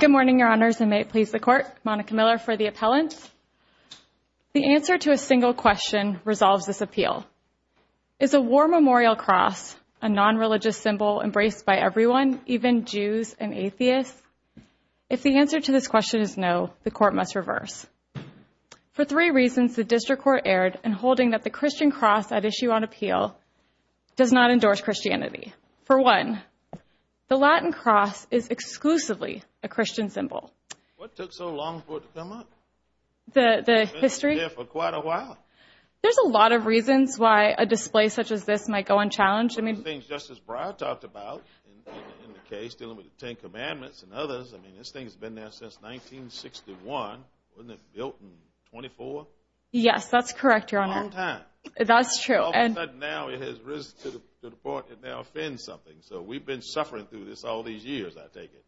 Good morning, Your Honors, and may it please the Court, Monica Miller for the appellant. The answer to a single question resolves this appeal. Is a war memorial cross a non-religious symbol embraced by everyone, even Jews and atheists? If the answer to this question is no, the Court must reverse. For three reasons, the District Court erred in holding that the Christian cross at issue on appeal does not endorse Christianity. For one, the Latin cross is exclusively a Christian symbol. What took so long for it to come up? The history? It's been there for quite a while. There's a lot of reasons why a display such as this might go unchallenged. One of the things Justice Breyer talked about in the case dealing with the Ten Commandments and others, I mean, this thing's been there since 1961, wasn't it built in 24? Yes, that's correct, Your Honor. A long time. That's true. All of a sudden now it has risen to the point it now offends something. So we've been suffering through this all these years, I take it.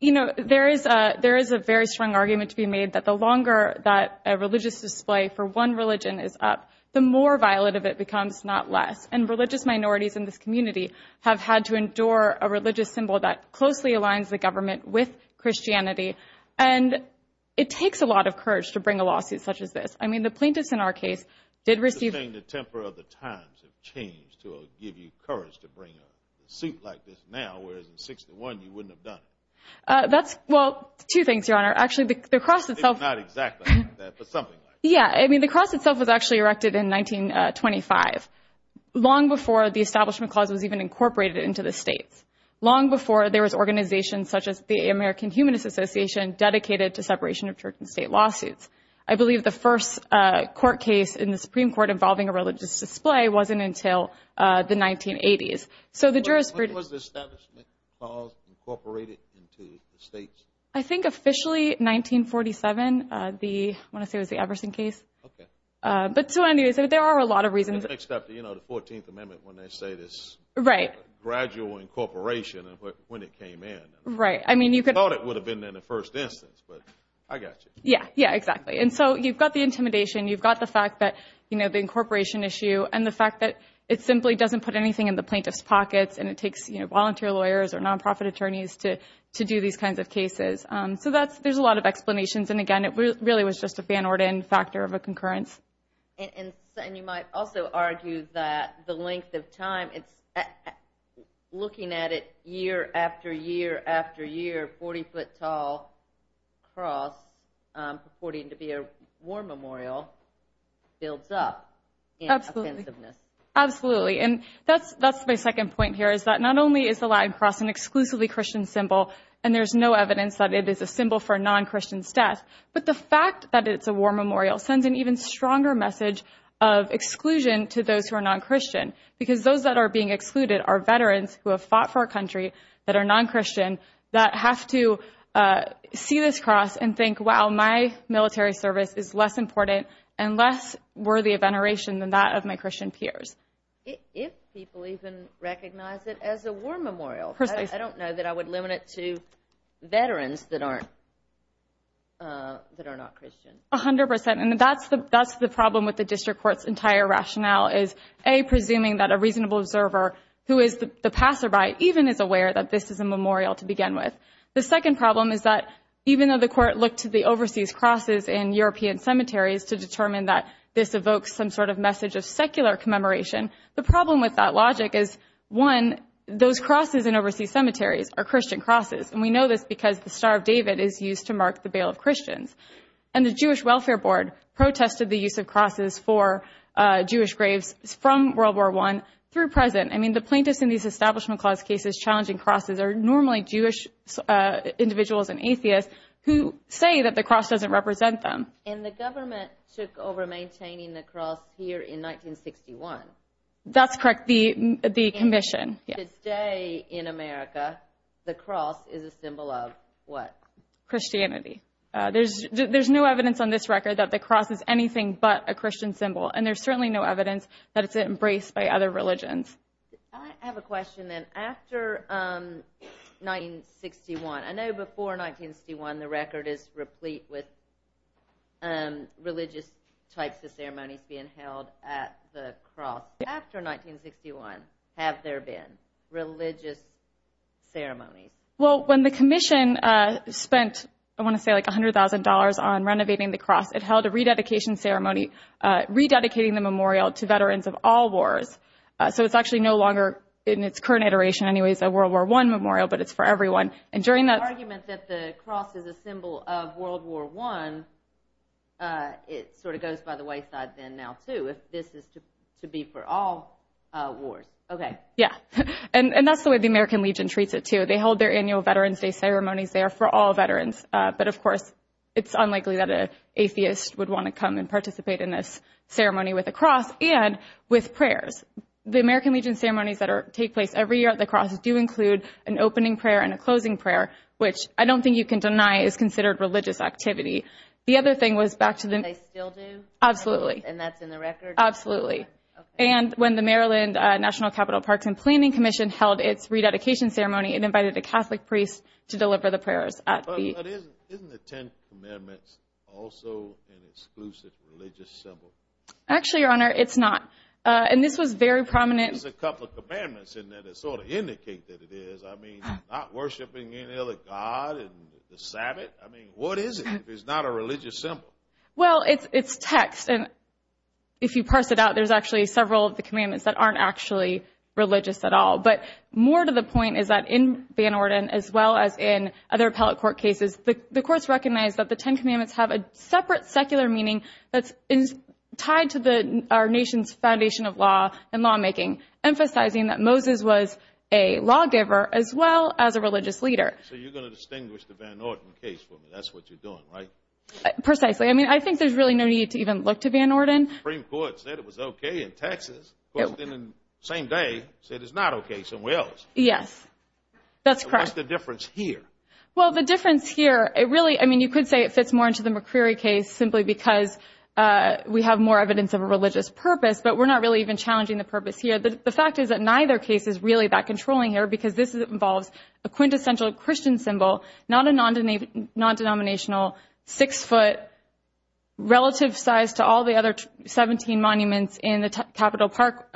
You know, there is a very strong argument to be made that the longer that a religious display for one religion is up, the more violent of it becomes, not less. And religious minorities in this community have had to endure a religious symbol that closely aligns the government with Christianity. And it takes a lot of courage to bring a lawsuit such as this. I mean, the plaintiffs in our case did receive... You're saying the temper of the times have changed to give you courage to bring a suit like this now, whereas in 1961 you wouldn't have done it. That's, well, two things, Your Honor. Actually the cross itself... It's not exactly like that, but something like that. Yeah, I mean, the cross itself was actually erected in 1925, long before the Establishment Clause was even incorporated into the states. Long before there was organizations such as the American Humanist Association dedicated to separation of church and state lawsuits. I believe the first court case in the Supreme Court involving a religious display wasn't until the 1980s. So the jurisprudence... When was the Establishment Clause incorporated into the states? I think officially 1947, when I say it was the Everson case. Okay. But so anyways, there are a lot of reasons... Next up, you know, the 14th Amendment, when they say this gradual incorporation, when it came in. Right. I mean, you could... I thought it would have been in the first instance, but I got you. Yeah, yeah, exactly. And so you've got the intimidation, you've got the fact that, you know, the incorporation issue and the fact that it simply doesn't put anything in the plaintiff's pockets, and it takes, you know, volunteer lawyers or nonprofit attorneys to do these kinds of cases. So there's a lot of explanations, and again, it really was just a Van Orden factor of a concurrence. And you might also argue that the length of time, looking at it year after year after year, purporting to be a war memorial builds up in offensiveness. Absolutely. And that's my second point here, is that not only is the Latin cross an exclusively Christian symbol, and there's no evidence that it is a symbol for non-Christians' death, but the fact that it's a war memorial sends an even stronger message of exclusion to those who are non-Christian, because those that are being excluded are veterans who have fought for our country that are non-Christian that have to see this cross and think, wow, my military service is less important and less worthy of veneration than that of my Christian peers. If people even recognize it as a war memorial, I don't know that I would limit it to veterans that aren't, that are not Christian. A hundred percent. And that's the problem with the district court's entire rationale, is A, presuming that a reasonable observer who is the passerby even is aware that this is a memorial to begin with. The second problem is that even though the court looked to the overseas crosses in European cemeteries to determine that this evokes some sort of message of secular commemoration, the problem with that logic is, one, those crosses in overseas cemeteries are Christian crosses. And we know this because the Star of David is used to mark the Bail of Christians. And the Jewish Welfare Board protested the use of crosses for Jewish graves from World War I through present. I mean, the plaintiffs in these Establishment Clause cases challenging crosses are normally Jewish individuals and atheists who say that the cross doesn't represent them. And the government took over maintaining the cross here in 1961. That's correct. The commission. And today in America, the cross is a symbol of what? Christianity. There's no evidence on this record that the cross is anything but a Christian symbol. And there's certainly no evidence that it's embraced by other religions. I have a question then. After 1961, I know before 1961, the record is replete with religious types of ceremonies being held at the cross. After 1961, have there been religious ceremonies? Well, when the commission spent, I want to say like $100,000 on renovating the cross, it held a rededication ceremony, rededicating the memorial to veterans of all wars. So it's actually no longer in its current iteration anyways, a World War I memorial, but it's for everyone. And during that argument that the cross is a symbol of World War I, it sort of goes by the wayside then now too, if this is to be for all wars. Okay. Yeah. And that's the way the American Legion treats it too. They hold their annual Veterans Day ceremonies there for all veterans. But of course, it's unlikely that an atheist would want to come and participate in this ceremony with a cross and with prayers. The American Legion ceremonies that take place every year at the cross do include an opening prayer and a closing prayer, which I don't think you can deny is considered religious activity. The other thing was back to the- They still do? Absolutely. And that's in the record? Absolutely. Okay. And when the Maryland National Capital Parks and Planning Commission held its rededication ceremony and invited a Catholic priest to deliver the prayers at the- Isn't the Ten Commandments also an exclusive religious symbol? Actually, Your Honor, it's not. And this was very prominent- There's a couple of commandments in there that sort of indicate that it is. I mean, not worshiping any other god and the sabbath? I mean, what is it if it's not a religious symbol? Well, it's text. And if you parse it out, there's actually several of the commandments that aren't actually religious at all. But more to the point is that in Van Orden, as well as in other appellate court cases, the courts recognize that the Ten Commandments have a separate secular meaning that's tied to our nation's foundation of law and lawmaking, emphasizing that Moses was a lawgiver as well as a religious leader. So you're going to distinguish the Van Orden case for me. That's what you're doing, right? Precisely. I mean, I think there's really no need to even look to Van Orden. The Supreme Court said it was okay in Texas. It was in the same day, said it's not okay somewhere else. Yes. That's correct. What's the difference here? Well, the difference here, it really, I mean, you could say it fits more into the McCreary case simply because we have more evidence of a religious purpose, but we're not really even challenging the purpose here. The fact is that neither case is really that controlling here because this involves a quintessential Christian symbol, not a non-denominational six-foot relative size to all the other 17 monuments in the Capitol Park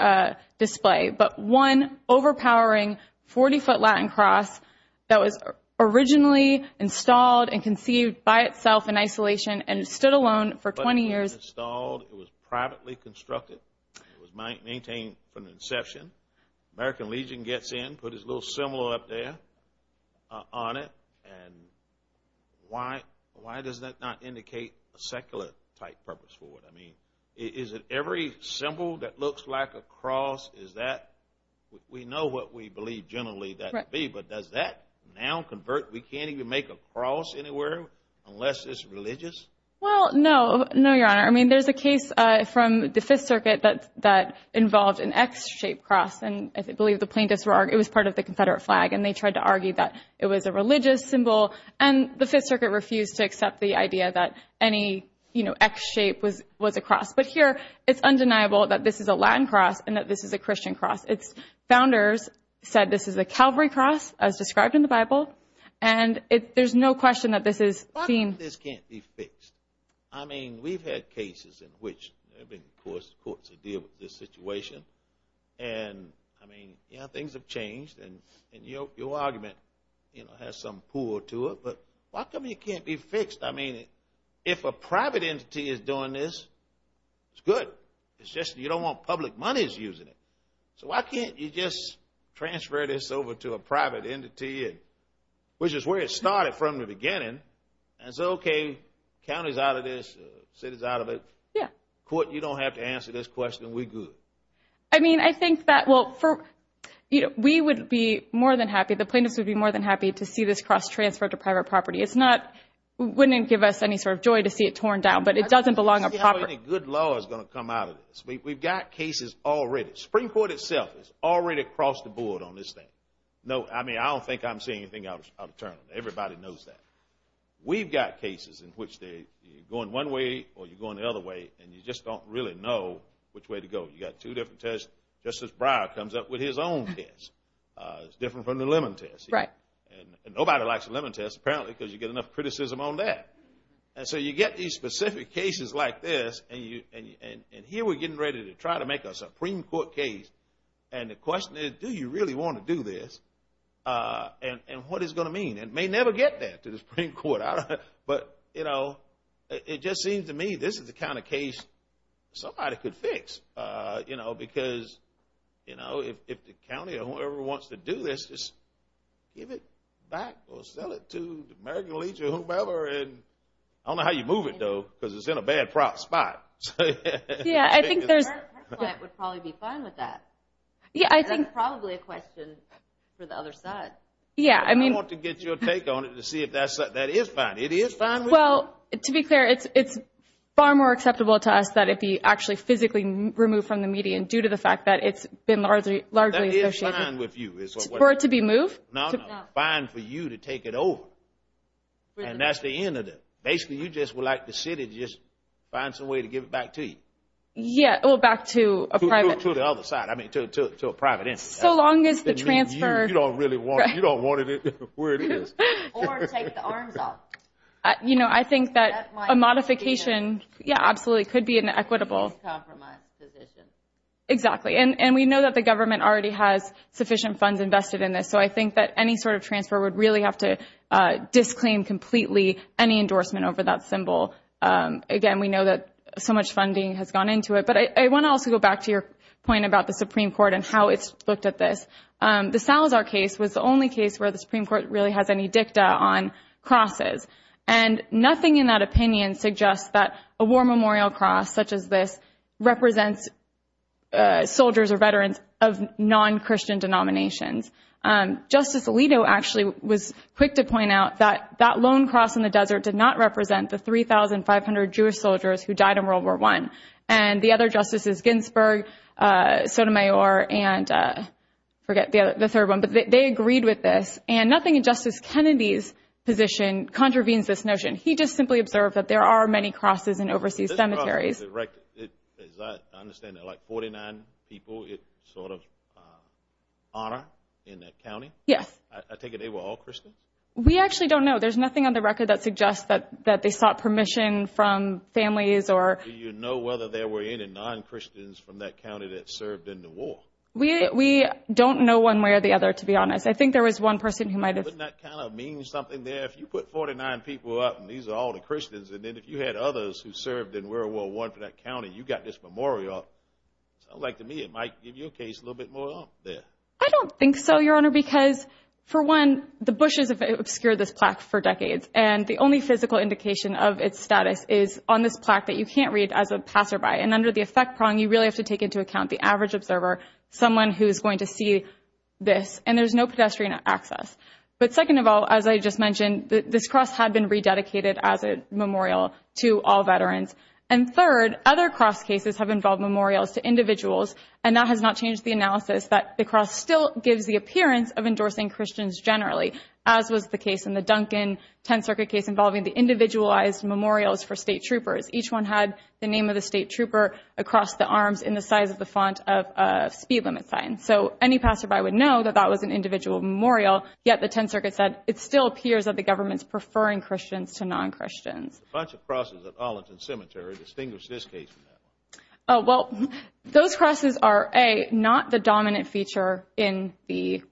display, but one overpowering 40-foot Latin cross that was originally installed and conceived by itself in isolation and stood alone for 20 years. It was installed. It was privately constructed. It was maintained from the inception. American Legion gets in, put his little symbol up there on it, and why does that not indicate a secular-type purpose for it? I mean, is it every symbol that looks like a cross, is that, we know what we believe generally that would be, but does that now convert, we can't even make a cross anywhere unless it's religious? Well, no. No, Your Honor. I mean, there's a case from the Fifth Circuit that involved an X-shaped cross, and I believe the plaintiffs were, it was part of the Confederate flag, and they tried to argue that it was a religious symbol, and the Fifth Circuit refused to accept the idea that any, you know, X-shape was a cross, but here it's undeniable that this is a Latin cross and that this is a Christian cross. Its founders said this is a Calvary cross, as described in the Bible, and there's no question that this is seen. Why can't this be fixed? I mean, we've had cases in which there have been courts that deal with this situation, and I mean, you know, things have changed, and your argument, you know, has some pull to it, but why come it can't be fixed? I mean, if a private entity is doing this, it's good. It's just you don't want public monies using it. So why can't you just transfer this over to a private entity, which is where it started from the beginning, and say, okay, county's out of this, city's out of it. Yeah. Court, you don't have to answer this question. We're good. I mean, I think that, well, we would be more than happy, the plaintiffs would be more than happy to see this cross transferred to private property. It's not, wouldn't give us any sort of joy to see it torn down, but it doesn't belong I don't see how any good law is going to come out of this. We've got cases already. Spring Court itself is already across the board on this thing. No, I mean, I don't think I'm seeing anything out of turn. Everybody knows that. We've got cases in which you're going one way, or you're going the other way, and you just don't really know which way to go. You've got two different tests. Justice Breyer comes up with his own test. It's different from the lemon test. Right. And nobody likes the lemon test, apparently, because you get enough criticism on that. And so you get these specific cases like this, and here we're getting ready to try to make a Supreme Court case. And the question is, do you really want to do this? And what is it going to mean? It may never get there to the Supreme Court, but, you know, it just seems to me this is the kind of case somebody could fix, you know, because, you know, if the county or whoever wants to do this, just give it back or sell it to the American Legion or whomever. I don't know how you move it, though, because it's in a bad spot. Yeah, I think there's... Her client would probably be fine with that. Yeah, I think... That's probably a question for the other side. Yeah, I mean... I want to get your take on it to see if that is fine. It is fine with you. Well, to be clear, it's far more acceptable to us that it be actually physically removed from the median due to the fact that it's been largely associated... It's fine with you. For it to be moved? No, no. Fine for you to take it over, and that's the end of it. Basically, you just would like the city to just find some way to give it back to you. Yeah, well, back to a private... To the other side. I mean, to a private entity. So long as the transfer... You don't really want it. You don't want it where it is. Or take the arms off. You know, I think that a modification, yeah, absolutely, could be an equitable... Compromise position. Exactly. And we know that the government already has sufficient funds invested in this. So I think that any sort of transfer would really have to disclaim completely any endorsement over that symbol. Again, we know that so much funding has gone into it. But I want to also go back to your point about the Supreme Court and how it's looked at this. The Salazar case was the only case where the Supreme Court really has any dicta on crosses. And nothing in that opinion suggests that a war memorial cross such as this represents soldiers or veterans of non-Christian denominations. Justice Alito actually was quick to point out that that lone cross in the desert did not represent the 3,500 Jewish soldiers who died in World War I. And the other justices, Ginsburg, Sotomayor, and I forget the third one, but they agreed with this. And nothing in Justice Kennedy's position contravenes this notion. He just simply observed that there are many crosses in overseas cemeteries. As I understand it, like 49 people, it's sort of honor in that county? Yes. I take it they were all Christians? We actually don't know. There's nothing on the record that suggests that they sought permission from families or- Do you know whether there were any non-Christians from that county that served in the war? We don't know one way or the other, to be honest. I think there was one person who might have- If you put 49 people up and these are all the Christians, and then if you had others who served in World War I for that county, you got this memorial up, it sounds like to me it might give your case a little bit more up there. I don't think so, Your Honor, because for one, the bushes have obscured this plaque for decades, and the only physical indication of its status is on this plaque that you can't read as a passerby. And under the effect prong, you really have to take into account the average observer, someone who is going to see this, and there's no pedestrian access. But second of all, as I just mentioned, this cross had been rededicated as a memorial to all veterans. And third, other cross cases have involved memorials to individuals, and that has not changed the analysis that the cross still gives the appearance of endorsing Christians generally, as was the case in the Duncan 10th Circuit case involving the individualized memorials for state troopers. Each one had the name of the state trooper across the arms in the size of the font of a speed limit sign. So any passerby would know that that was an individual memorial, yet the 10th Circuit said it still appears that the government is preferring Christians to non-Christians. A bunch of crosses at Arlington Cemetery. Distinguish this case from that one. Oh, well, those crosses are, A, not the dominant feature in the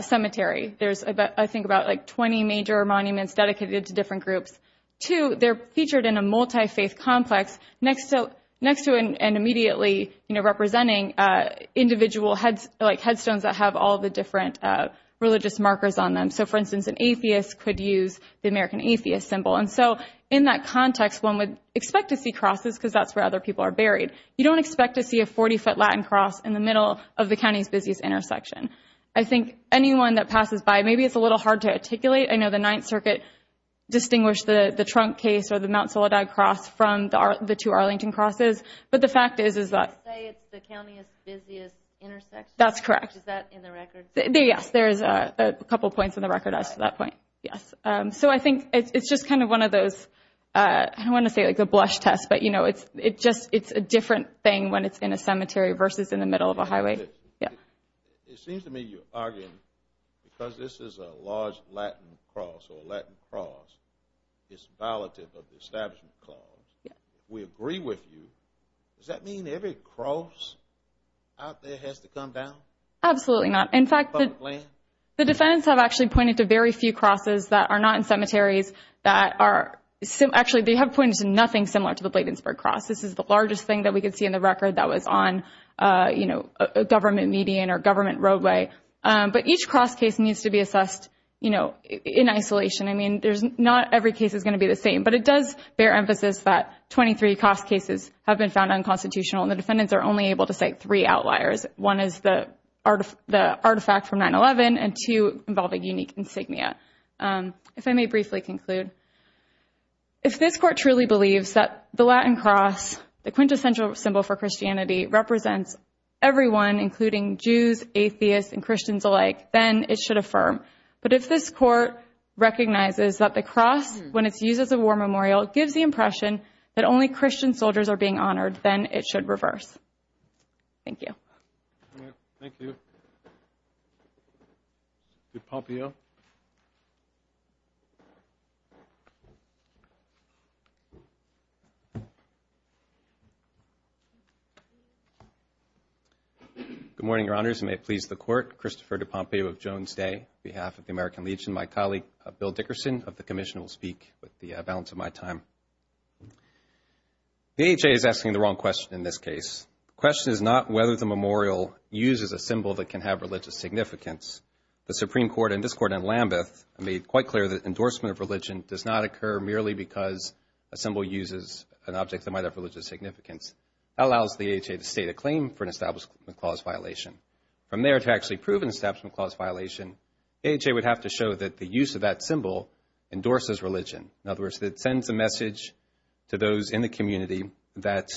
cemetery. There's, I think, about, like, 20 major monuments dedicated to different groups. Two, they're featured in a multi-faith complex next to and immediately representing individual, like, headstones that have all the different religious markers on them. So, for instance, an atheist could use the American atheist symbol. And so in that context, one would expect to see crosses because that's where other people are buried. You don't expect to see a 40-foot Latin cross in the middle of the county's busiest intersection. I think anyone that passes by, maybe it's a little hard to articulate. I know the 9th Circuit distinguished the Trunk case or the Mount Soledad cross from the two Arlington crosses, but the fact is, is that... You say it's the county's busiest intersection? That's correct. Is that in the records? Yes, there's a couple points in the record as to that point. Yes. So I think it's just kind of one of those... I don't want to say, like, a blush test, but, you know, it's just... It's a different thing when it's in a cemetery versus in the middle of a highway. Yeah. It seems to me you're arguing because this is a large Latin cross or a Latin cross, it's violative of the establishment clause. Yeah. We agree with you. Does that mean every cross out there has to come down? Absolutely not. In fact, the defendants have actually pointed to very few crosses that are not in cemeteries that are... Actually, they have pointed to nothing similar to the Bladensburg cross. This is the largest thing that we could see in the record that was on, you know, a government median or government roadway. But each cross case needs to be assessed, you know, in isolation. I mean, not every case is going to be the same, but it does bear emphasis that 23 cross cases have been found unconstitutional, and the defendants are only able to cite three outliers. One is the artifact from 9-11, and two involve a unique insignia. If I may briefly conclude. If this court truly believes that the Latin cross, the quintessential symbol for Christianity, represents everyone, including Jews, atheists, and Christians alike, then it should affirm. But if this court recognizes that the cross, when it's used as a war memorial, gives the impression that only Christian soldiers are being honored, then it should reverse. Thank you. All right. Thank you. DePompeo. Good morning, Your Honors, and may it please the Court. Christopher DePompeo of Jones Day. On behalf of the American Legion, my colleague Bill Dickerson of the Commission will speak with the balance of my time. The AHA is asking the wrong question in this case. The question is not whether the memorial uses a symbol that can have religious significance. The Supreme Court and this Court in Lambeth made quite clear that endorsement of religion does not occur merely because a symbol uses an object that might have religious significance. That allows the AHA to state a claim for an Establishment Clause violation. From there, to actually prove an Establishment Clause violation, the AHA would have to show that the use of that symbol endorses religion. In other words, it sends a message to those in the community that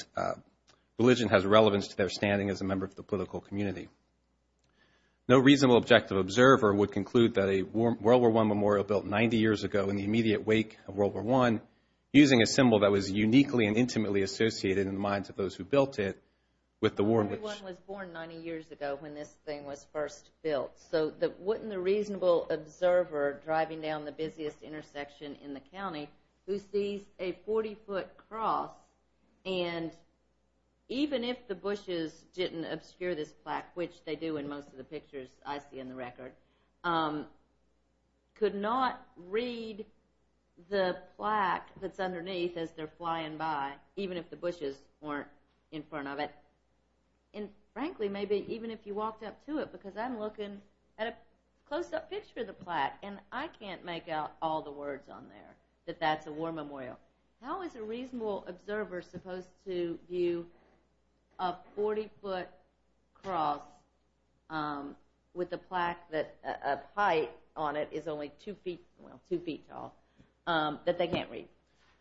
religion has relevance to their standing as a member of the political community. No reasonable objective observer would conclude that a World War I memorial built 90 years ago in the immediate wake of World War I, using a symbol that was uniquely and intimately associated in the minds of those who built it, with the war... Everyone was born 90 years ago when this thing was first built. So wouldn't the reasonable observer driving down the busiest intersection in the county, who sees a 40-foot cross, and even if the bushes didn't obscure this plaque, which they do in most of the pictures I see in the record, could not read the plaque that's underneath as they're flying by, even if the bushes weren't in front of it? And frankly, maybe even if you walked up to it, because I'm looking at a close-up picture of the plaque, and I can't make out all the words on there that that's a war memorial. How is a reasonable observer supposed to view a 40-foot cross with a plaque that... a height on it is only two feet... well, two feet tall, that they can't read?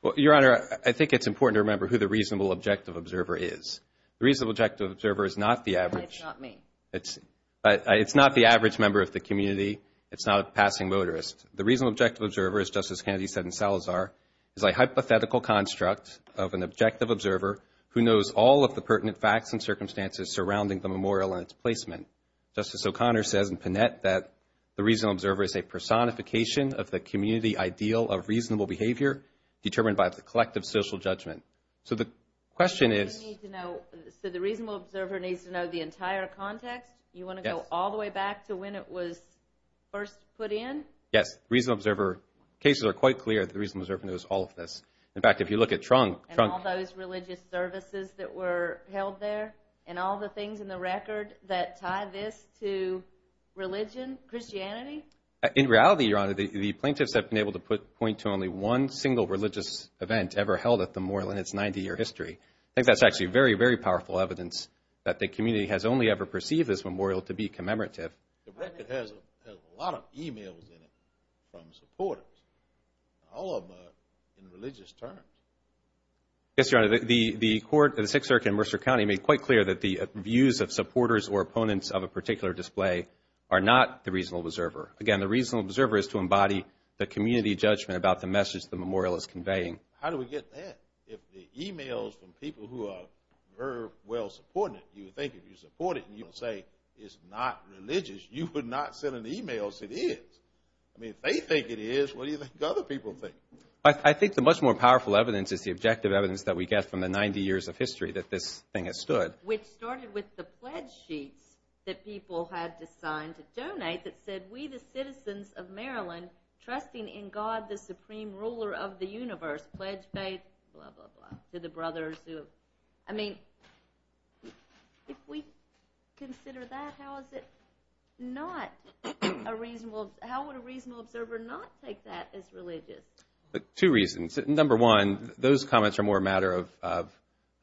Well, Your Honor, I think it's important to remember who the reasonable objective observer is. The reasonable objective observer is not the average... It's not me. It's... It's not the average member of the community. It's not a passing motorist. The reasonable objective observer, as Justice Kennedy said in Salazar, is a hypothetical construct of an objective observer who knows all of the pertinent facts and circumstances surrounding the memorial and its placement. Justice O'Connor says in Panette that the reasonable observer is a personification of the community ideal of reasonable behavior determined by the collective social judgment. So the question is... So the reasonable observer needs to know the entire context? Yes. You want to go all the way back to when it was first put in? Yes, reasonable observer... Cases are quite clear that the reasonable observer knows all of this. In fact, if you look at Trunk... And all those religious services that were held there and all the things in the record that tie this to religion, Christianity? In reality, Your Honor, the plaintiffs have been able to point to only one single religious event ever held at the memorial in its 90-year history. I think that's actually very, very powerful evidence that the community has only ever perceived this memorial to be commemorative. The record has a lot of e-mails in it from supporters. All of them are in religious terms. Yes, Your Honor. The court of the Sixth Circuit in Mercer County made quite clear that the views of supporters or opponents of a particular display are not the reasonable observer. Again, the reasonable observer is to embody the community judgment about the message the memorial is conveying. How do we get that? If the e-mails from people who are very well-supported, you would think if you support it, and you say it's not religious, you would not send an e-mail saying it is. I mean, if they think it is, what do you think other people think? I think the much more powerful evidence is the objective evidence that we get from the 90 years of history that this thing has stood. Which started with the pledge sheets that people had to sign to donate that said, We, the citizens of Maryland, trusting in God, the supreme ruler of the universe, pledge faith, blah, blah, blah, to the brothers who... I mean, if we consider that, how is it not a reasonable... How would a reasonable observer not take that as religious? Two reasons. Number one, those comments are more a matter of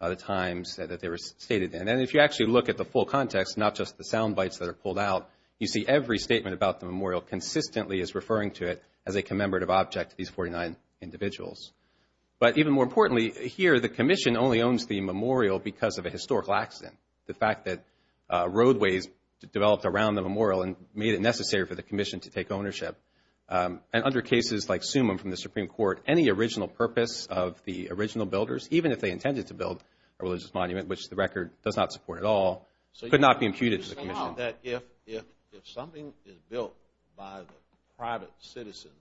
the times that they were stated in. And if you actually look at the full context, not just the sound bites that are pulled out, you see every statement about the memorial consistently is referring to it as a commemorative object to these 49 individuals. But even more importantly, here, the commission only owns the memorial because of a historical accident. The fact that roadways developed around the memorial and made it necessary for the commission to take ownership. And under cases like Sumim from the Supreme Court, any original purpose of the original builders, even if they intended to build a religious monument, which the record does not support at all, could not be imputed to the commission. So you're saying that if something is built by the private citizens,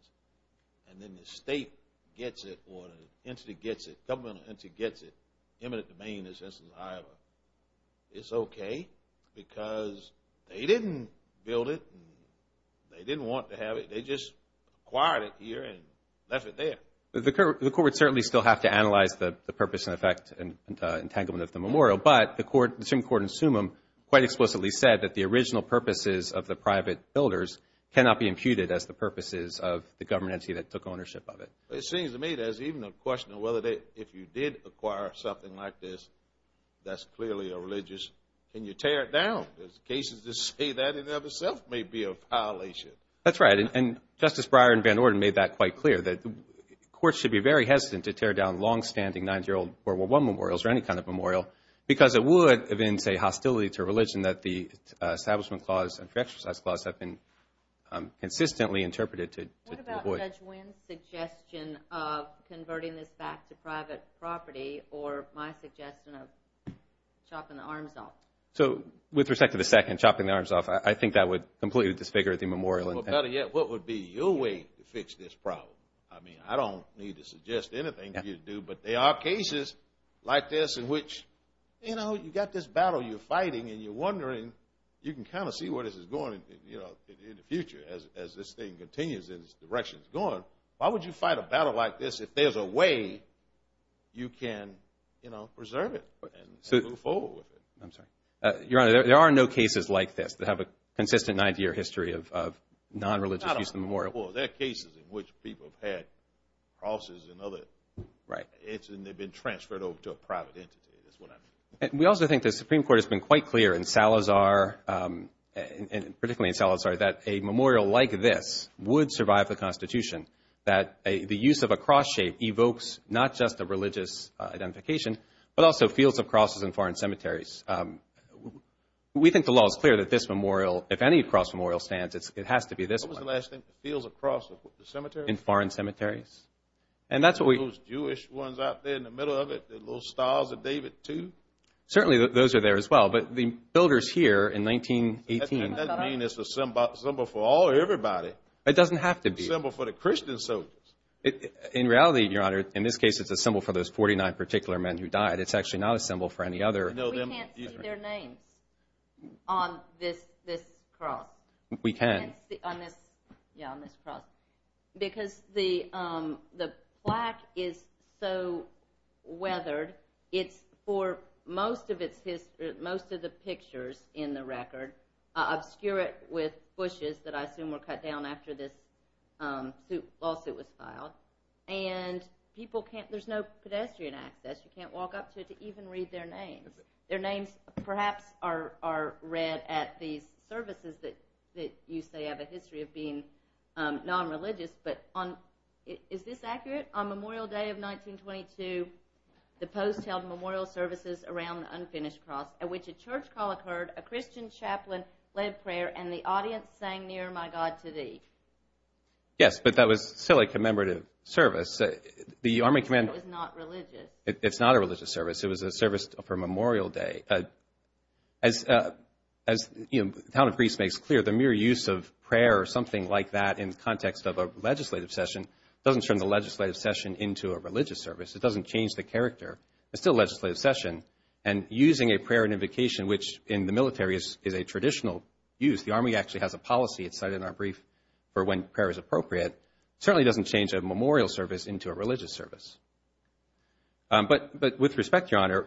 and then the state gets it, or an entity gets it, or a government entity gets it, eminent domain, in this instance, it's okay because they didn't build it. They didn't want to have it. They just acquired it here and left it there. The court would certainly still have to analyze the purpose and effect and entanglement of the memorial. But the Supreme Court in Sumim quite explicitly said that the original purposes of the private builders cannot be imputed as the purposes of the government entity that took ownership of it. It seems to me there's even a question of whether if you did acquire something like this, that's clearly a religious... Can you tear it down? Because cases that say that in and of itself may be a violation. That's right, and Justice Breyer and Van Orden made that quite clear, that courts should be very hesitant to tear down longstanding 9-year-old World War I memorials or any kind of memorial, because it would evince a hostility to religion that the Establishment Clause and Pre-Exercise Clause have been consistently interpreted to avoid. What about Judge Wynn's suggestion of converting this back to private property or my suggestion of chopping the arms off? So with respect to the second, chopping the arms off, I think that would completely disfigure the memorial. Well, better yet, what would be your way to fix this problem? I mean, I don't need to suggest anything for you to do, but there are cases like this in which, you know, you've got this battle you're fighting and you're wondering... You can kind of see where this is going in the future as this thing continues and its direction is going. Why would you fight a battle like this if there's a way you can, you know, preserve it and move forward with it? I'm sorry. Your Honor, there are no cases like this that have a consistent 9-year history of non-religious use of the memorial. Well, there are cases in which people have had crosses and other... Right. ...and they've been transferred over to a private entity, is what I mean. We also think the Supreme Court has been quite clear in Salazar, particularly in Salazar, that a memorial like this would survive the Constitution, that the use of a cross shape evokes not just a religious identification, but also fields of crosses in foreign cemeteries. We think the law is clear that this memorial, if any cross memorial stands, it has to be this one. What was the last thing? Fields of crosses in foreign cemeteries? And that's what we... Are those Jewish ones out there in the middle of it, the little stars of David II? Certainly those are there as well, but the builders here in 1918... That doesn't mean it's a symbol for all or everybody. It doesn't have to be. A symbol for the Christian soldiers. In reality, Your Honor, in this case it's a symbol for those 49 particular men who died. It's actually not a symbol for any other... We can't see their names on this cross. We can. Yeah, on this cross. Because the plaque is so weathered, it's for most of the pictures in the record obscure it with bushes that I assume were cut down after this lawsuit was filed. And people can't... There's no pedestrian access. You can't walk up to it to even read their names. Their names perhaps are read at these services that you say have a history of being non-religious. Is this accurate? On Memorial Day of 1922, the post held memorial services around the unfinished cross, at which a church call occurred, a Christian chaplain led prayer, and the audience sang, Near My God to Thee. Yes, but that was still a commemorative service. It was not religious. It's not a religious service. It was a service for Memorial Day. As Town of Greece makes clear, the mere use of prayer or something like that in the context of a legislative session doesn't turn the legislative session into a religious service. It doesn't change the character. It's still a legislative session, and using a prayer and invocation, which in the military is a traditional use. The Army actually has a policy, it's cited in our brief, for when prayer is appropriate. It certainly doesn't change a memorial service into a religious service. But with respect, Your Honor,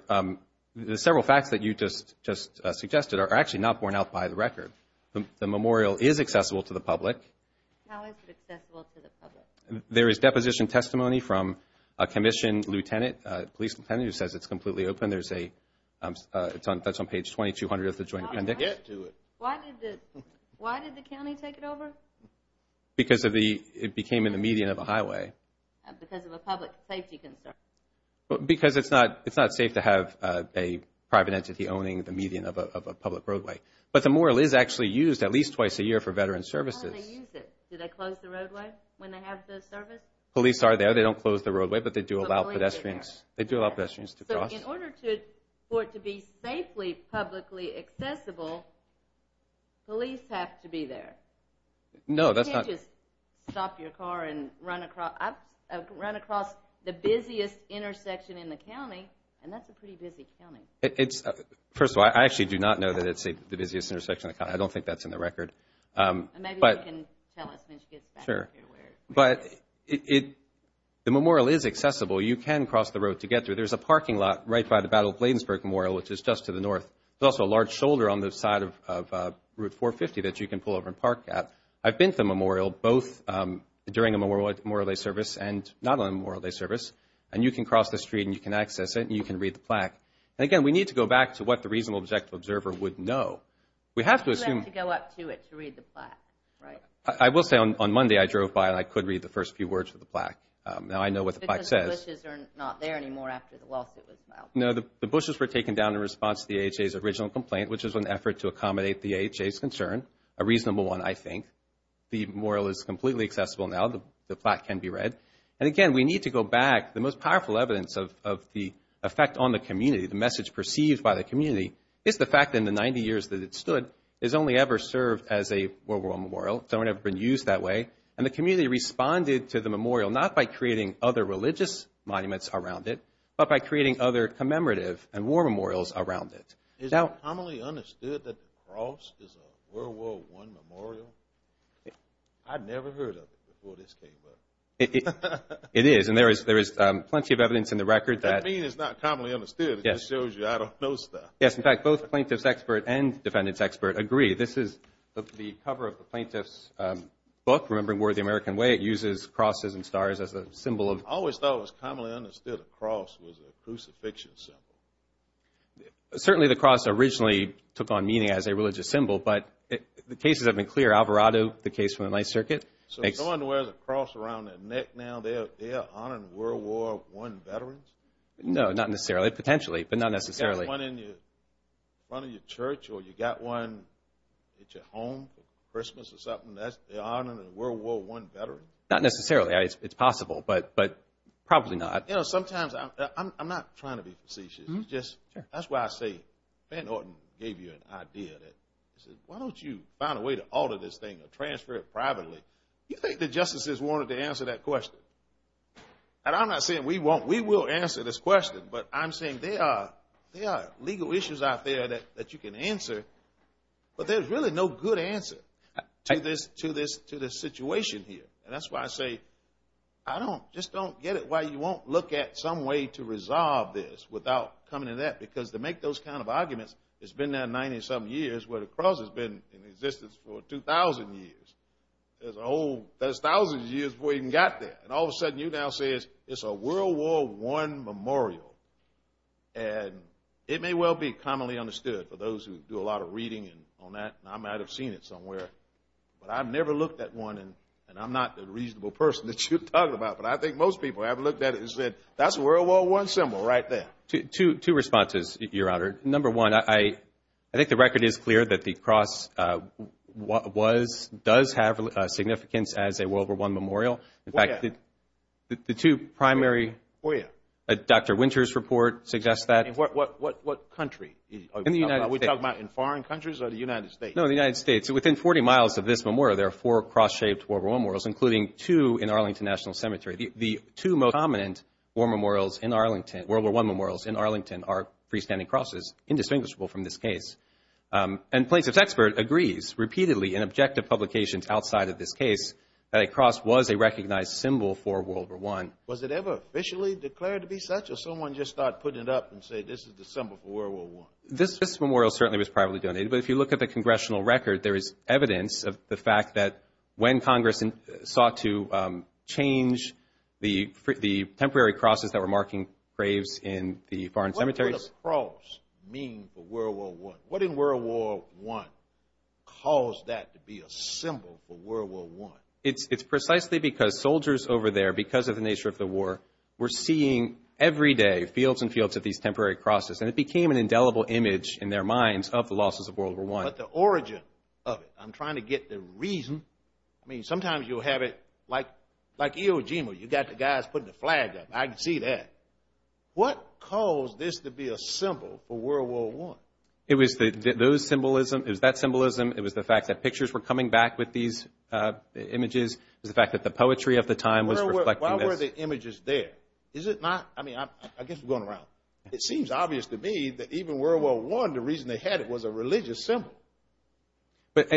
the several facts that you just suggested are actually not borne out by the record. The memorial is accessible to the public. How is it accessible to the public? There is deposition testimony from a commissioned lieutenant, a police lieutenant, who says it's completely open. That's on page 2200 of the joint appendix. Why did the county take it over? Because it became in the median of a highway. Because of a public safety concern. Because it's not safe to have a private entity owning the median of a public roadway. But the memorial is actually used at least twice a year for veteran services. How do they use it? Do they close the roadway when they have the service? Police are there. They don't close the roadway, but they do allow pedestrians to cross. So in order for it to be safely publicly accessible, police have to be there. You can't just stop your car and run across the busiest intersection in the county, and that's a pretty busy county. First of all, I actually do not know that it's the busiest intersection in the county. I don't think that's in the record. Maybe you can tell us when she gets back. Sure. The memorial is accessible. You can cross the road to get there. There's a parking lot right by the Battle of Bladensburg Memorial, which is just to the north. There's also a large shoulder on the side of Route 450 that you can pull over and park at. I've been to the memorial both during a Memorial Day service and not on a Memorial Day service, and you can cross the street and you can access it and you can read the plaque. And again, we need to go back to what the reasonable objective observer would know. We have to assume... You have to go up to it to read the plaque, right? I will say on Monday I drove by and I could read the first few words of the plaque. Now I know what the plaque says. Because the bushes are not there anymore after the lawsuit was filed? No, the bushes were taken down in response to the AHA's original complaint, which was an effort to accommodate the AHA's concern. A reasonable one, I think. The memorial is completely accessible now. The plaque can be read. And again, we need to go back. The most powerful evidence of the effect on the community, the message perceived by the community, is the fact that in the 90 years that it stood, it's only ever served as a World War I memorial. It's only ever been used that way. And the community responded to the memorial not by creating other religious monuments around it, but by creating other commemorative and war memorials around it. Is it commonly understood that the cross is a World War I memorial? I'd never heard of it before this came up. It is. And there is plenty of evidence in the record that... That means it's not commonly understood. It just shows you I don't know stuff. Yes, in fact, both plaintiff's expert and defendant's expert agree. This is the cover of the plaintiff's book, Remembering War the American Way. It uses crosses and stars as a symbol of... I always thought it was commonly understood a cross was a crucifixion symbol. Certainly the cross originally took on meaning as a religious symbol, but the cases have been clear. Alvarado, the case from the Ninth Circuit... So someone who wears a cross around their neck now, they're honoring World War I veterans? No, not necessarily. Potentially, but not necessarily. You got one in front of your church or you got one at your home for Christmas or something, they're honoring a World War I veteran? Not necessarily. It's possible, but probably not. I'm not trying to be facetious. That's why I say Ben Orton gave you an idea. Why don't you find a way to alter this thing or transfer it privately? You think the justices wanted to answer that question? And I'm not saying we will answer this question, but I'm saying there are legal issues out there that you can answer, but there's really no good answer to this situation here, and that's why I say just don't get it why you won't look at some way to resolve this without coming to that, because to make those kind of arguments, it's been there 90-some years where the cross has been in existence for 2,000 years. There's thousands of years before you even got there, and all of a sudden you now say it's a World War I memorial, and it may well be commonly understood for those who do a lot of reading on that, and I might have seen it somewhere, but I've never looked at one, and I'm not the reasonable person that you're talking about, but I think most people have looked at it and said, that's a World War I symbol right there. Two responses, Your Honor. Number one, I think the record is clear that the cross does have significance as a World War I memorial. In fact, the two primary Dr. Winter's report suggests that. What country? Are we talking about in foreign countries or the United States? No, the United States. Within 40 miles of this memorial, there are four cross-shaped World War I memorials, including two in Arlington National Cemetery. The two most prominent World War I memorials in Arlington are freestanding crosses, indistinguishable from this case. And plaintiff's expert agrees, repeatedly, in objective publications outside of this case, that a cross was a recognized symbol for World War I. Was it ever officially declared to be such, or did someone just start putting it up and say, this is the symbol for World War I? This memorial certainly was privately donated, but if you look at the congressional record, there is evidence of the fact that when Congress sought to change the temporary crosses that were marking graves in the foreign cemeteries. What did the cross mean for World War I? What in World War I caused that to be a symbol for World War I? It's precisely because soldiers over there, because of the nature of the war, were seeing every day, fields and fields of these temporary crosses, and it became an indelible image in their minds of the losses of World War I. But the origin of it, I'm trying to get the reason, I mean, sometimes you'll have it, like Iwo Jima, you've got the guys putting the flag up, I can see that. What caused this to be a symbol for World War I? It was that symbolism, it was the fact that pictures were coming back with these images, it was the fact that the poetry of the time was reflecting this. Why were the images there? Is it not? I mean, I guess we're going around. It seems obvious to me that even World War I, the reason they had it was a religious symbol. But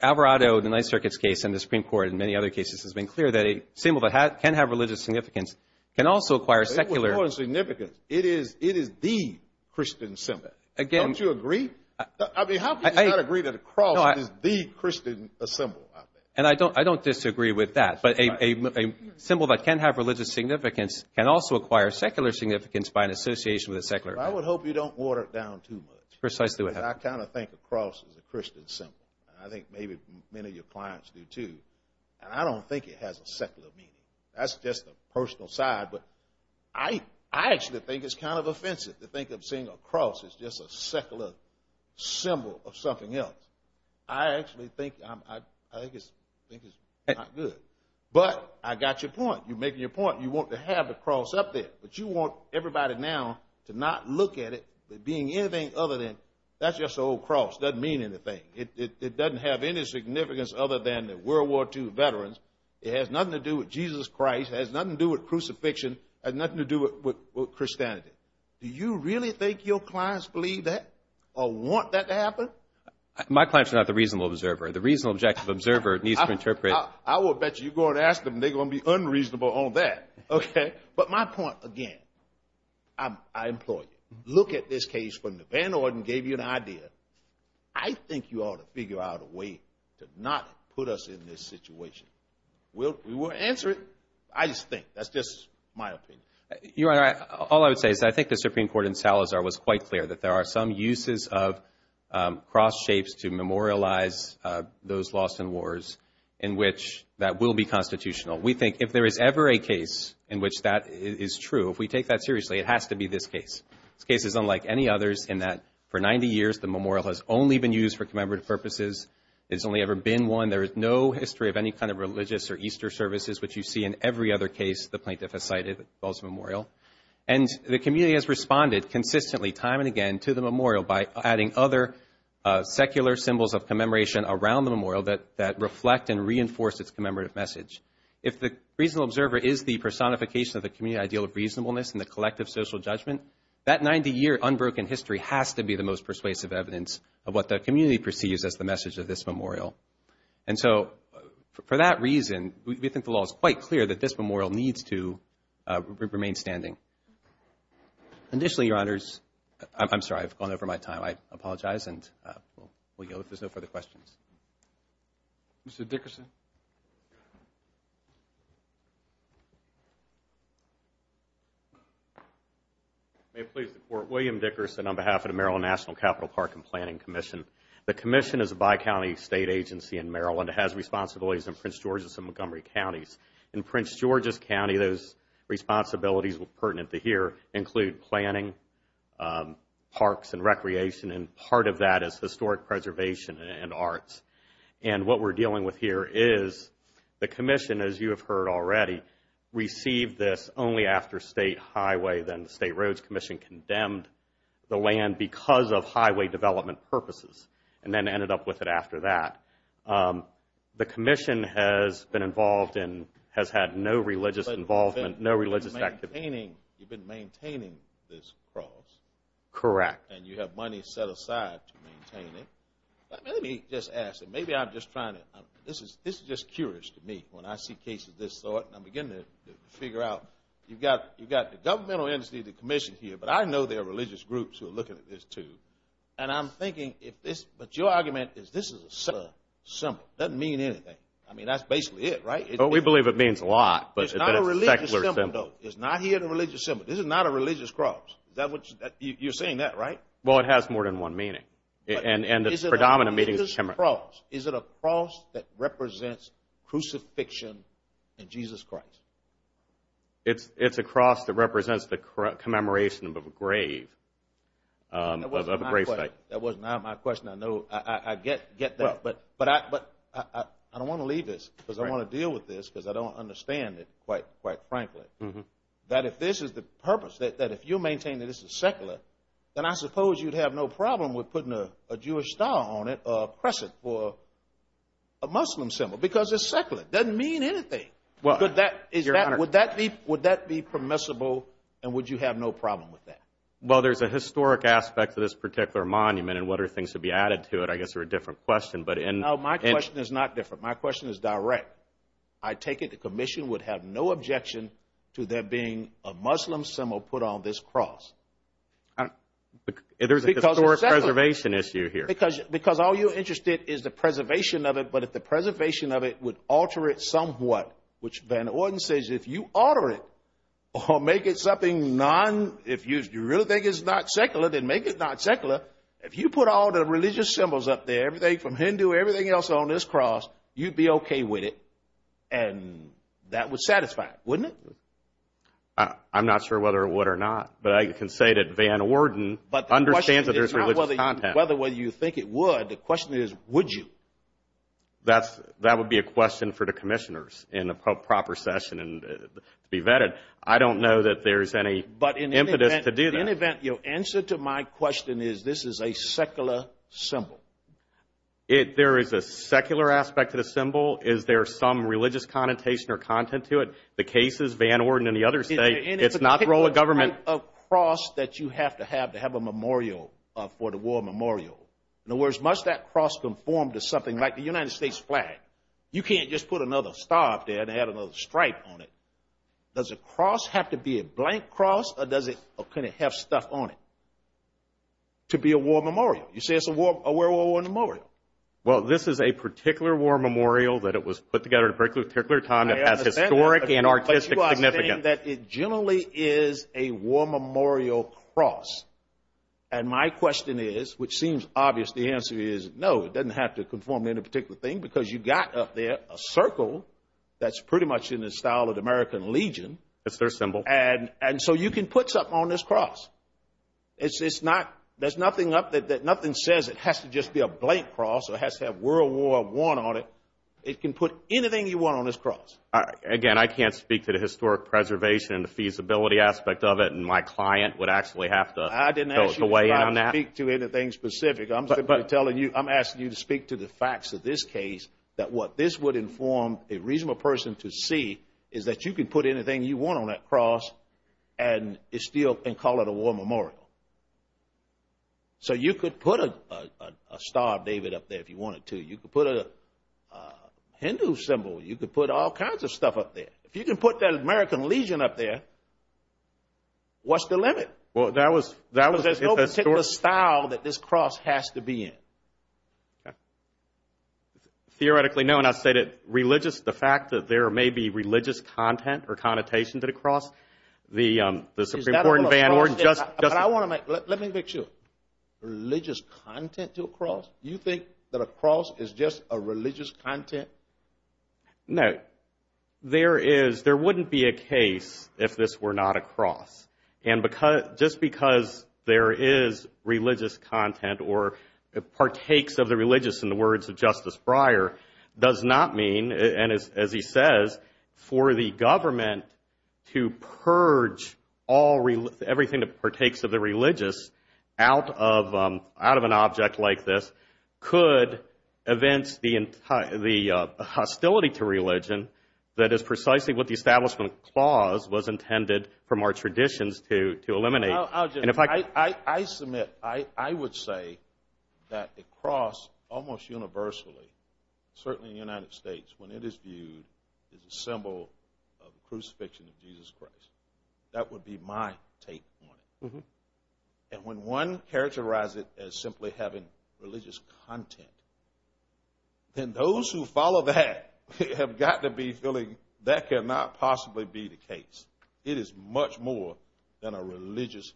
Alvarado, the Ninth Circuit's case and the Supreme Court and many other cases has been clear that a symbol that can have religious significance can also acquire secular... It was more than significant. It is THE Christian symbol. Don't you agree? How can you not agree that a cross is THE Christian symbol? And I don't disagree with that, but a symbol that can have religious significance can also acquire secular significance by an association with a secular... I would hope you don't water it down too much. Precisely what happened. I kind of think a cross is a Christian symbol. I think maybe many of your clients do too. And I don't think it has a secular meaning. That's just a personal side, but I actually think it's kind of offensive to think of seeing a cross as just a secular symbol of something else. I actually think it's not good. But I got your point. You're making your point. You want to have a cross up there, but you want everybody now to not look at it as being anything other than... That's just an old cross. It doesn't mean anything. It doesn't have any significance other than World War II veterans. It has nothing to do with Jesus Christ. It has nothing to do with crucifixion. It has nothing to do with Christianity. Do you really think your clients believe that or want that to happen? My clients are not the reasonable observer. The reasonable objective observer needs to interpret... I will bet you you go and ask them and they're going to be unreasonable on that. But my point, again, I implore you. Look at this case when the Van Orden gave you an idea. I think you ought to figure out a way to not put us in this situation. We will answer it. I just think. That's just my opinion. Your Honor, all I would say is that I think the Supreme Court in Salazar was quite clear that there are some uses of cross shapes to memorialize those lost in wars in which that will be constitutional. We think if there is ever a case in which that is true, if we take that seriously, it has to be this case. This case is unlike any others in that for 90 years the memorial has only been used for commemorative purposes. There has only ever been one. There is no history of any kind of religious or Easter services which you see in every other case the plaintiff has cited that involves a memorial. And the community has responded consistently time and again to the memorial by adding other secular symbols of commemoration around the memorial that reflect and reinforce its commemorative message. If the reasonable observer is the personification of the community ideal of reasonableness and the collective social judgment, that 90 year unbroken history has to be the most persuasive evidence of what the community perceives as the message of this memorial. And so for that reason we think the law is quite clear that this memorial needs to remain standing. Additionally, Your Honors, I'm sorry, I've gone over my time. I apologize and we'll go if there's no further questions. Mr. Dickerson. May it please the Court. William Dickerson on behalf of the Maryland National Capital Park and Planning Commission. The commission is a bi-county state agency in Maryland. It has responsibilities in Prince George's and Montgomery counties. In Prince George's County those responsibilities pertinent to here include planning, parks and recreation and part of that is historic preservation and arts. And what we're dealing with here is the commission, as you have heard already, received this only after State Highway, then the State Roads Commission condemned the land because of highway development purposes and then ended up with it after that. The commission has been involved in, has had no religious involvement, no religious activity. You've been maintaining this cross. Correct. And you have money set aside to maintain it. Let me just ask, maybe I'm just trying to this is just curious to me when I see cases of this sort and I'm beginning to figure out, you've got the governmental entity, the commission here, but I know there are religious groups who are looking at this too. And I'm thinking if this But your argument is this is a secular symbol. It doesn't mean anything. I mean that's basically it, right? We believe it means a lot. It's not a religious symbol. This is not a religious cross. You're saying that, right? Well, it has more than one meaning. Is it a cross that represents crucifixion in Jesus Christ? It's a cross that represents the commemoration of a grave. That wasn't my question. I get that. But I don't want to leave this because I want to deal with this because I don't understand it quite frankly. That if this is the purpose that if you maintain that this is secular then I suppose you'd have no problem with putting a Jewish star on it or a crescent for a Muslim symbol because it's secular. It doesn't mean anything. Would that be permissible and would you have no problem with that? Well, there's a historic aspect of this particular monument and what are things to be added to it I guess are a different question. No, my question is not different. My question is direct. I take it the commission would have no objection to there being a Muslim symbol put on this cross. There's a historic preservation issue here. Because all you're interested in is the preservation of it but if the preservation of it would alter it somewhat, which Van Orden says if you alter it or make it something non if you really think it's not secular then make it not secular. If you put all the religious symbols up there everything from Hindu, everything else on this cross you'd be okay with it and that would satisfy it, wouldn't it? I'm not sure whether it would or not but I can say that Van Orden understands that there's religious content. The question is would you? That would be a question for the commissioners in a proper session to be vetted. I don't know that there's any impetus to do that. The answer to my question is this is a secular symbol. There is a secular aspect to the symbol. Is there some religious connotation or content to it? The cases, Van Orden and the others say it's not the role of government. A cross that you have to have to have a memorial for the war memorial. In other words, must that cross conform to something like the United States flag? You can't just put another star up there and add another stripe on it. Does a cross have to be a blank cross or can it have stuff on it to be a war memorial? This is a particular war memorial that it was put together at a particular time that has historic and artistic significance. It generally is a war memorial cross and my question is, which seems obvious, the answer is no. It doesn't have to conform to any particular thing because you got up there a circle that's pretty much in the style of the American Legion. It's their symbol. So you can put something on this cross. There's nothing up there that nothing says it has to just be a blank cross or has to have World War I on it. It can put anything you want on this cross. Again, I can't speak to the historic preservation and the feasibility aspect of it and my client would actually have to fill the way in on that. I didn't ask you to try to speak to anything specific. I'm asking you to speak to the facts of this case that what this would inform a reasonable person to see is that you can put anything you want on that cross and call it a war memorial. So you could put a star of David up there if you wanted to. You could put a Hindu symbol. You could put all kinds of stuff up there. If you can put that American Legion up there what's the limit? There's no particular style that this cross has to be in. Theoretically, no. The fact that there may be religious content or connotation to the cross, the Supreme Court and Van Warden just... Let me make sure. Religious content to a cross? You think that a cross is just a religious content? No. There wouldn't be a case if this were not a cross. Just because there is religious content or partakes of the religious in the words of Justice Breyer does not mean, as he says, for the government to purge everything that partakes of the religious out of an object like this could evince the hostility to religion that is precisely what the Establishment Clause was intended for more traditions to eliminate. I submit, I would say that the cross almost universally certainly in the United States, when it is viewed as a symbol of the crucifixion of Jesus Christ that would be my take on it. And when one characterizes it as simply having religious content then those who follow that have got to be feeling that cannot possibly be the case. It is much more than a religious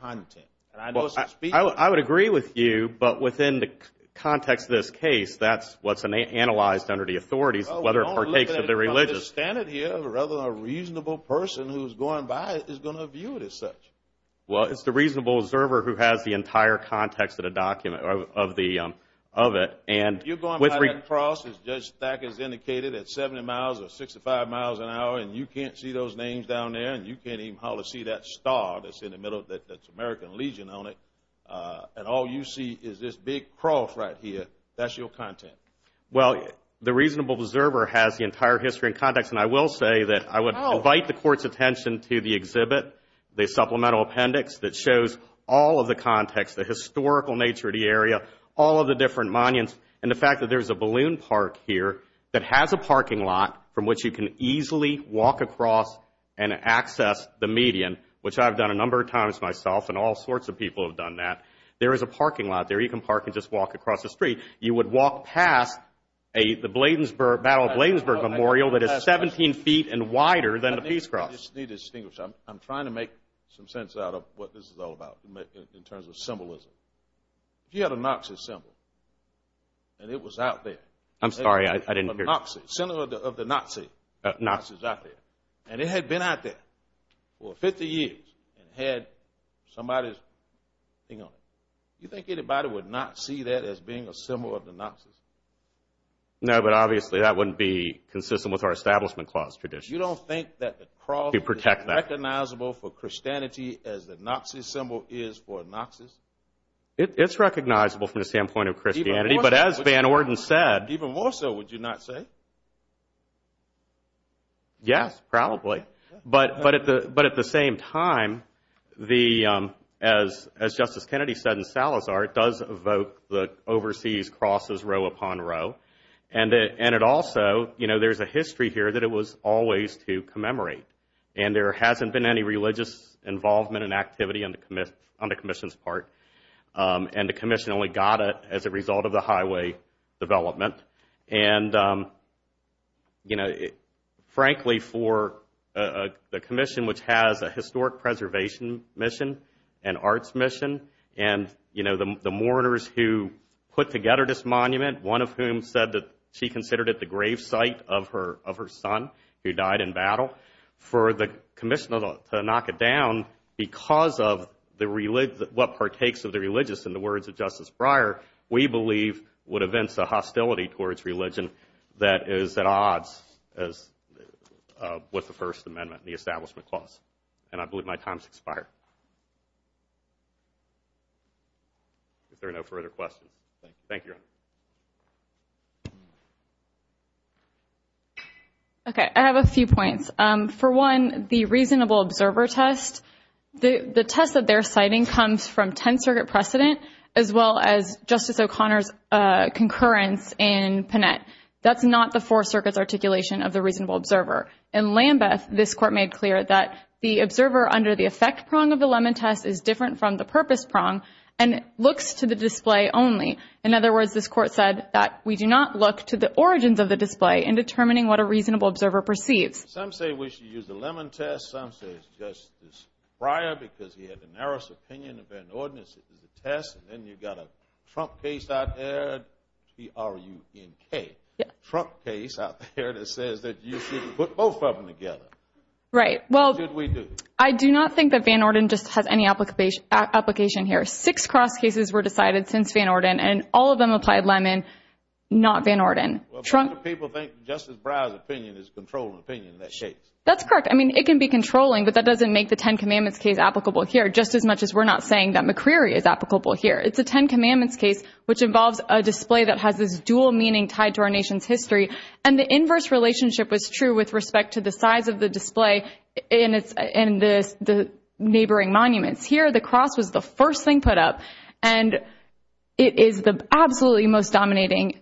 content. I would agree with you, but within the context of this case, that's what's analyzed under the authorities whether it partakes of the religious. Rather than a reasonable person who's going by it is going to view it as such. Well, it's the reasonable observer who has the entire context of the document, of the, of it. And you're going by that cross as Judge Thacker has indicated at 70 miles or 65 miles an hour and you can't see those names down there and you can't even see that star that's in the middle that's American Legion on it. And all you see is this big cross right here. That's your content. Well, the reasonable observer has the entire history and context and I will say that I would invite the court's attention to the exhibit, the supplemental appendix that shows all of the context, the historical nature of the area, all of the different monuments and the fact that there's a balloon park here that has a parking lot from which you can easily walk across and access the median which I've done a number of times myself and all sorts of people have done that. There is a parking lot there. You can park and just walk across the street. You would walk past a, the Bladensburg, Battle of Bladensburg Memorial that is 17 feet and wider than the Peace Cross. I just need to distinguish. I'm trying to make some sense out of what this is all about in terms of symbolism. If you had a Noxus symbol and it was out there I'm sorry, I didn't hear you. The symbol of the Noxus out there and it had been out there for 50 years and had somebody's thing on it. Do you think anybody would not see that as being a symbol of the Noxus? No, but obviously that wouldn't be consistent with our Establishment Clause tradition. You don't think that the cross is recognizable for Christianity as the Noxus symbol is for Noxus? It's recognizable from the standpoint of Christianity, but as Van Orden said Even more so would you not say? Yes, probably. But at the same time the, as Justice Kennedy said in Salazar, it does evoke the overseas crosses row upon row. And it also, you know, there's a history here that it was always to commemorate. And there hasn't been any religious involvement and activity on the Commission's part. And the Commission only got it as a result of the highway development. And you know, frankly for the Commission which has a historic preservation mission, an arts mission and, you know, the mourners who put together this monument one of whom said that she considered it the grave site of her son who died in battle. For the Commission to knock it down because of what partakes of the religious in the words of Justice Breyer we believe would evince a hostility towards religion that is at odds with the First Amendment and the Establishment Clause. And I believe my time has expired. If there are no further questions. Thank you. Thank you. Okay, I have a few points. For one, the reasonable observer test. The test that they're citing comes from Tenth Circuit precedent as well as Justice O'Connor's concurrence in Panette. That's not the Fourth Circuit's articulation of the reasonable observer. In Lambeth, this Court made clear that the observer under the effect prong of the Lemon Test is different from the purpose prong and looks to the display only. In other words, this Court said that we do not look to the origins of the display in determining what a reasonable observer perceives. Some say we should use the Lemon Test. Some say it's Justice Breyer because he had the narrowest opinion of Van Orden as a test. And then you've got a Trump case out there. T-R-U-N-K. Trump case out there that says that you should put both of them together. Right. Well, I do not think that Van Orden just has any application here. Six cross cases were decided since Van Orden and all of them applied Lemon, not Van Orden. People think Justice Breyer's opinion is controlling opinion in that case. That's correct. I mean, it can be controlling, but that doesn't make the Ten Commandments case applicable here just as much as we're not saying that McCreary is applicable here. It's a Ten Commandments case which involves a display that has this dual meaning tied to our nation's history. And the inverse relationship was true with respect to the size of the display in the neighboring monuments. Here, the cross was the first thing put up and it is the absolutely most dominating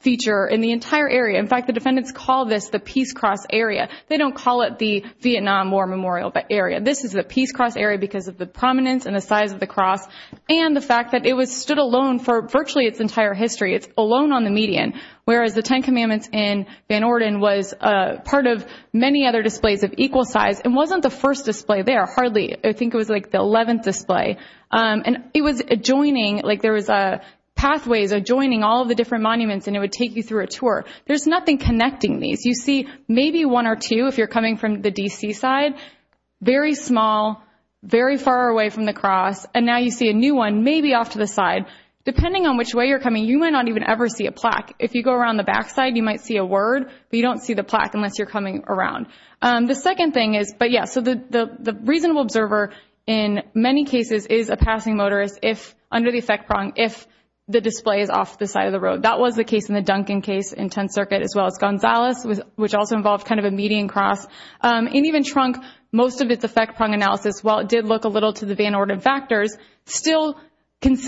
feature in the entire area. In fact, the defendants call this the Peace Cross area. They don't call it the Vietnam War Memorial area. This is the Peace Cross area because of the prominence and the size of the cross and the fact that it was stood alone for virtually its entire history. It's alone on the median, whereas the Ten Commandments in Van Orden was part of many other displays of equal size. It wasn't the first display there, hardly. I think it was like the 11th display. It was adjoining like there was pathways adjoining all of the different monuments and it would take you through a tour. There's nothing connecting these. You see maybe one or two if you're coming from the D.C. side. Very small, very far away from the cross, and now you see a new one maybe off to the side. Depending on which way you're coming, you might not even ever see a plaque. If you go around the back side, you might see a word, but you don't see the plaque unless you're coming around. The second thing is, but yeah, so the reasonable observer in many cases is a passing motorist if, under the effect prong, if the display is off the side of the road. That was the case in the Duncan case in Tenth Circuit as well as Gonzales which also involved kind of a median cross. In even Trunk, most of its effect prong analysis, while it did look a little to the Van Orden factors, still by is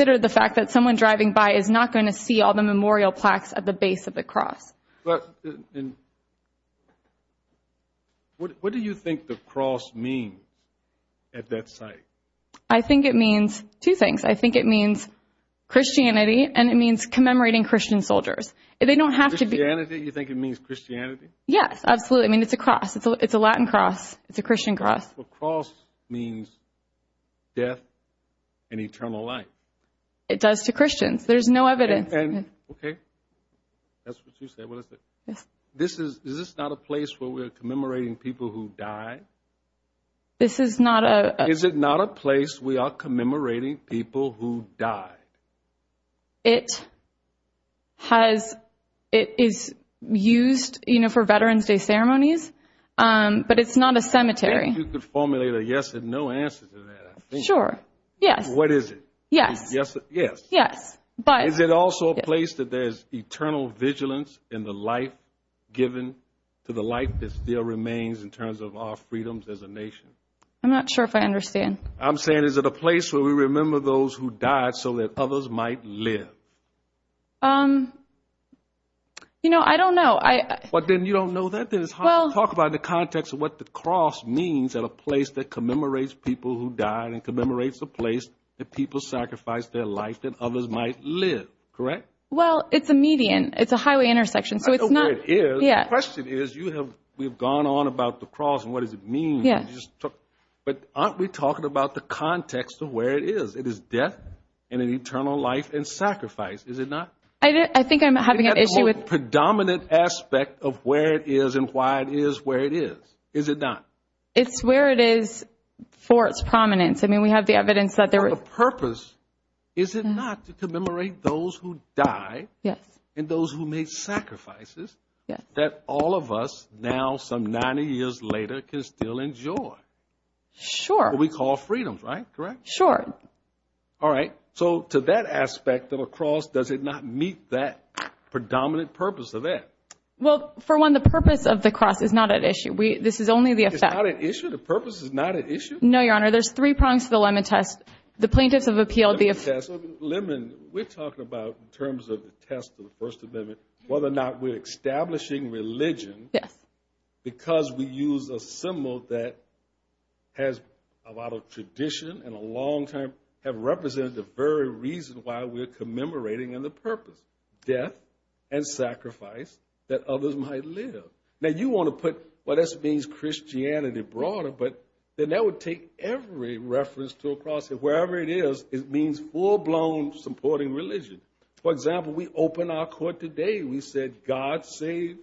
not going to see all the memorial plaques at the base of the cross. What do you think the cross means at that site? I think it means two things. I think it means Christianity, and it means commemorating Christian soldiers. They don't have to be... Christianity? You think it means Christianity? Yes, absolutely. I mean, it's a cross. It's a Latin cross. It's a Christian cross. The cross means death and eternal life. It does to Christians. There's no evidence. Okay. That's what you said. What is it? This is... Is this not a place where we're commemorating people who died? This is not a... Is it not a place we are commemorating people who died? It has... It is used for Veterans Day ceremonies, but it's not a cemetery. You could formulate a yes and no answer to that. Sure. Yes. What is it? Yes. Yes. Yes. But... Is it also a place that there's eternal vigilance in the life given to the life that still remains in terms of our freedoms as a nation? I'm not sure if I understand. I'm saying is it a place where we remember those who died so that others might live? Um... You know, I don't know. I... But then you don't know that? Then it's hard to talk about the context of what the cross means at a place that commemorates people who died and commemorates a place that people sacrificed their life that others might live. Correct? Well, it's a median. It's a highway intersection, so it's not... I know where it is. The question is, you have... We've gone on about the cross and what does it mean. Yes. But aren't we talking about the context of where it is? It is death and an eternal life and sacrifice. Is it not? I think I'm having an issue with... The predominant aspect of where it is and why it is where it is. Is it not? It's where it is for its prominence. I mean, we have the evidence that there was... Is it not to commemorate those who died? Yes. And those who made sacrifices that all of us, now some 90 years later, can still enjoy? Sure. What we call freedom, right? Correct? Sure. Alright. So, to that aspect of a cross, does it not meet that predominant purpose of that? Well, for one, the purpose of the cross is not at issue. This is only the effect. It's not at issue? The purpose is not at issue? No, Your Honor. There's three prongs to the Lemon Test. The plaintiffs have appealed the... The Lemon Test. We're talking about, in terms of the test of the First Amendment, whether or not we're establishing religion. Yes. Because we use a symbol that has a lot of tradition and a long time have represented the very reason why we're commemorating in the purpose death and sacrifice that others might live. Now, you want to put, well, this means Christianity broader, but then that would take every reference to a cross. Wherever it is, it means full-blown supporting religion. For example, we opened our court today. We said, God save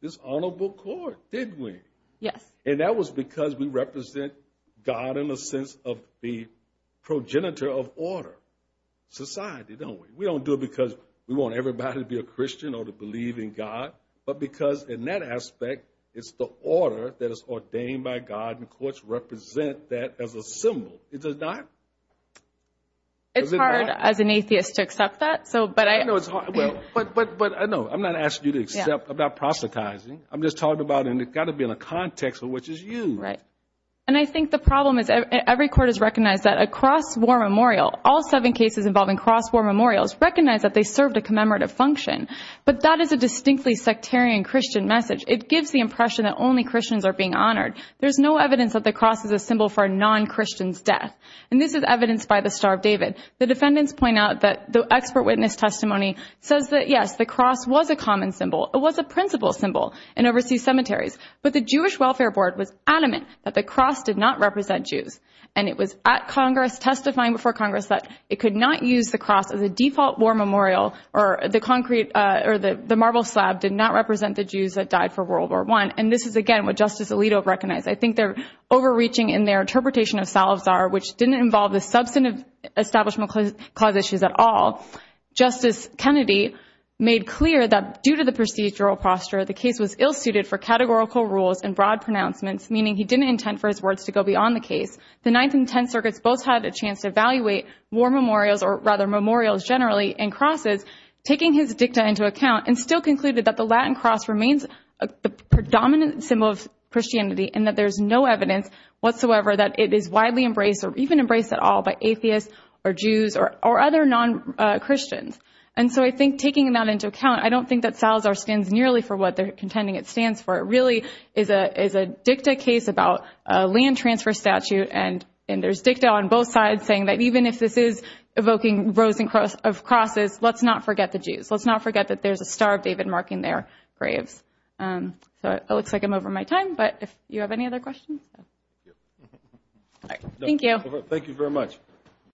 this honorable court. Did we? Yes. And that was because we represent God in the sense of the progenitor of order society, don't we? We don't do it because we want everybody to be a Christian or to believe in God, but because in that aspect, it's the order that is ordained by God, and courts represent that as a symbol. It does not. It's hard as an atheist to accept that, so, but I... But, no, I'm not asking you to accept about proselytizing. I'm just talking about and it's got to be in a context in which it's you. Right. And I think the problem is every court has recognized that a cross war memorial, all seven cases involving cross war memorials, recognize that they served a commemorative function, but that is a distinctly sectarian Christian message. It gives the impression that only Christians are being honored. There's no evidence that the cross is a symbol for a non-Christian's death, and this is evidenced by the Star of David. The defendants point out that the expert witness testimony says that, yes, the cross was a common symbol. It was a principal symbol in overseas cemeteries, but the Jewish Welfare Board was adamant that the cross did not represent Jews, and it was at Congress testifying before Congress that it could not use the cross as a default war memorial, or the marble slab did not represent the Jews that died for World War I. And this is, again, what Justice Alito recognized. I think they're overreaching in their interpretation of Salazar, which didn't involve the substantive Establishment Clause issues at all. Justice Kennedy made clear that due to the procedural posture, the case was ill-suited for categorical rules and broad pronouncements, meaning he didn't intend for his words to go beyond the case. The Ninth and Tenth Circuits both had a chance to evaluate war memorials, or rather memorials generally, and crosses, taking his view that the Latin cross remains a predominant symbol of Christianity and that there's no evidence whatsoever that it is widely embraced, or even embraced at all, by atheists or Jews or other non-Christians. And so I think taking that into account, I don't think that Salazar stands nearly for what they're contending it stands for. It really is a dicta case about a land transfer statute, and there's dicta on both sides saying that even if this is evoking rows of crosses, let's not forget the Jews. Let's not forget that there's a star of David marking their graves. It looks like I'm over my time, but if you have any other questions? Thank you. Thank you very much.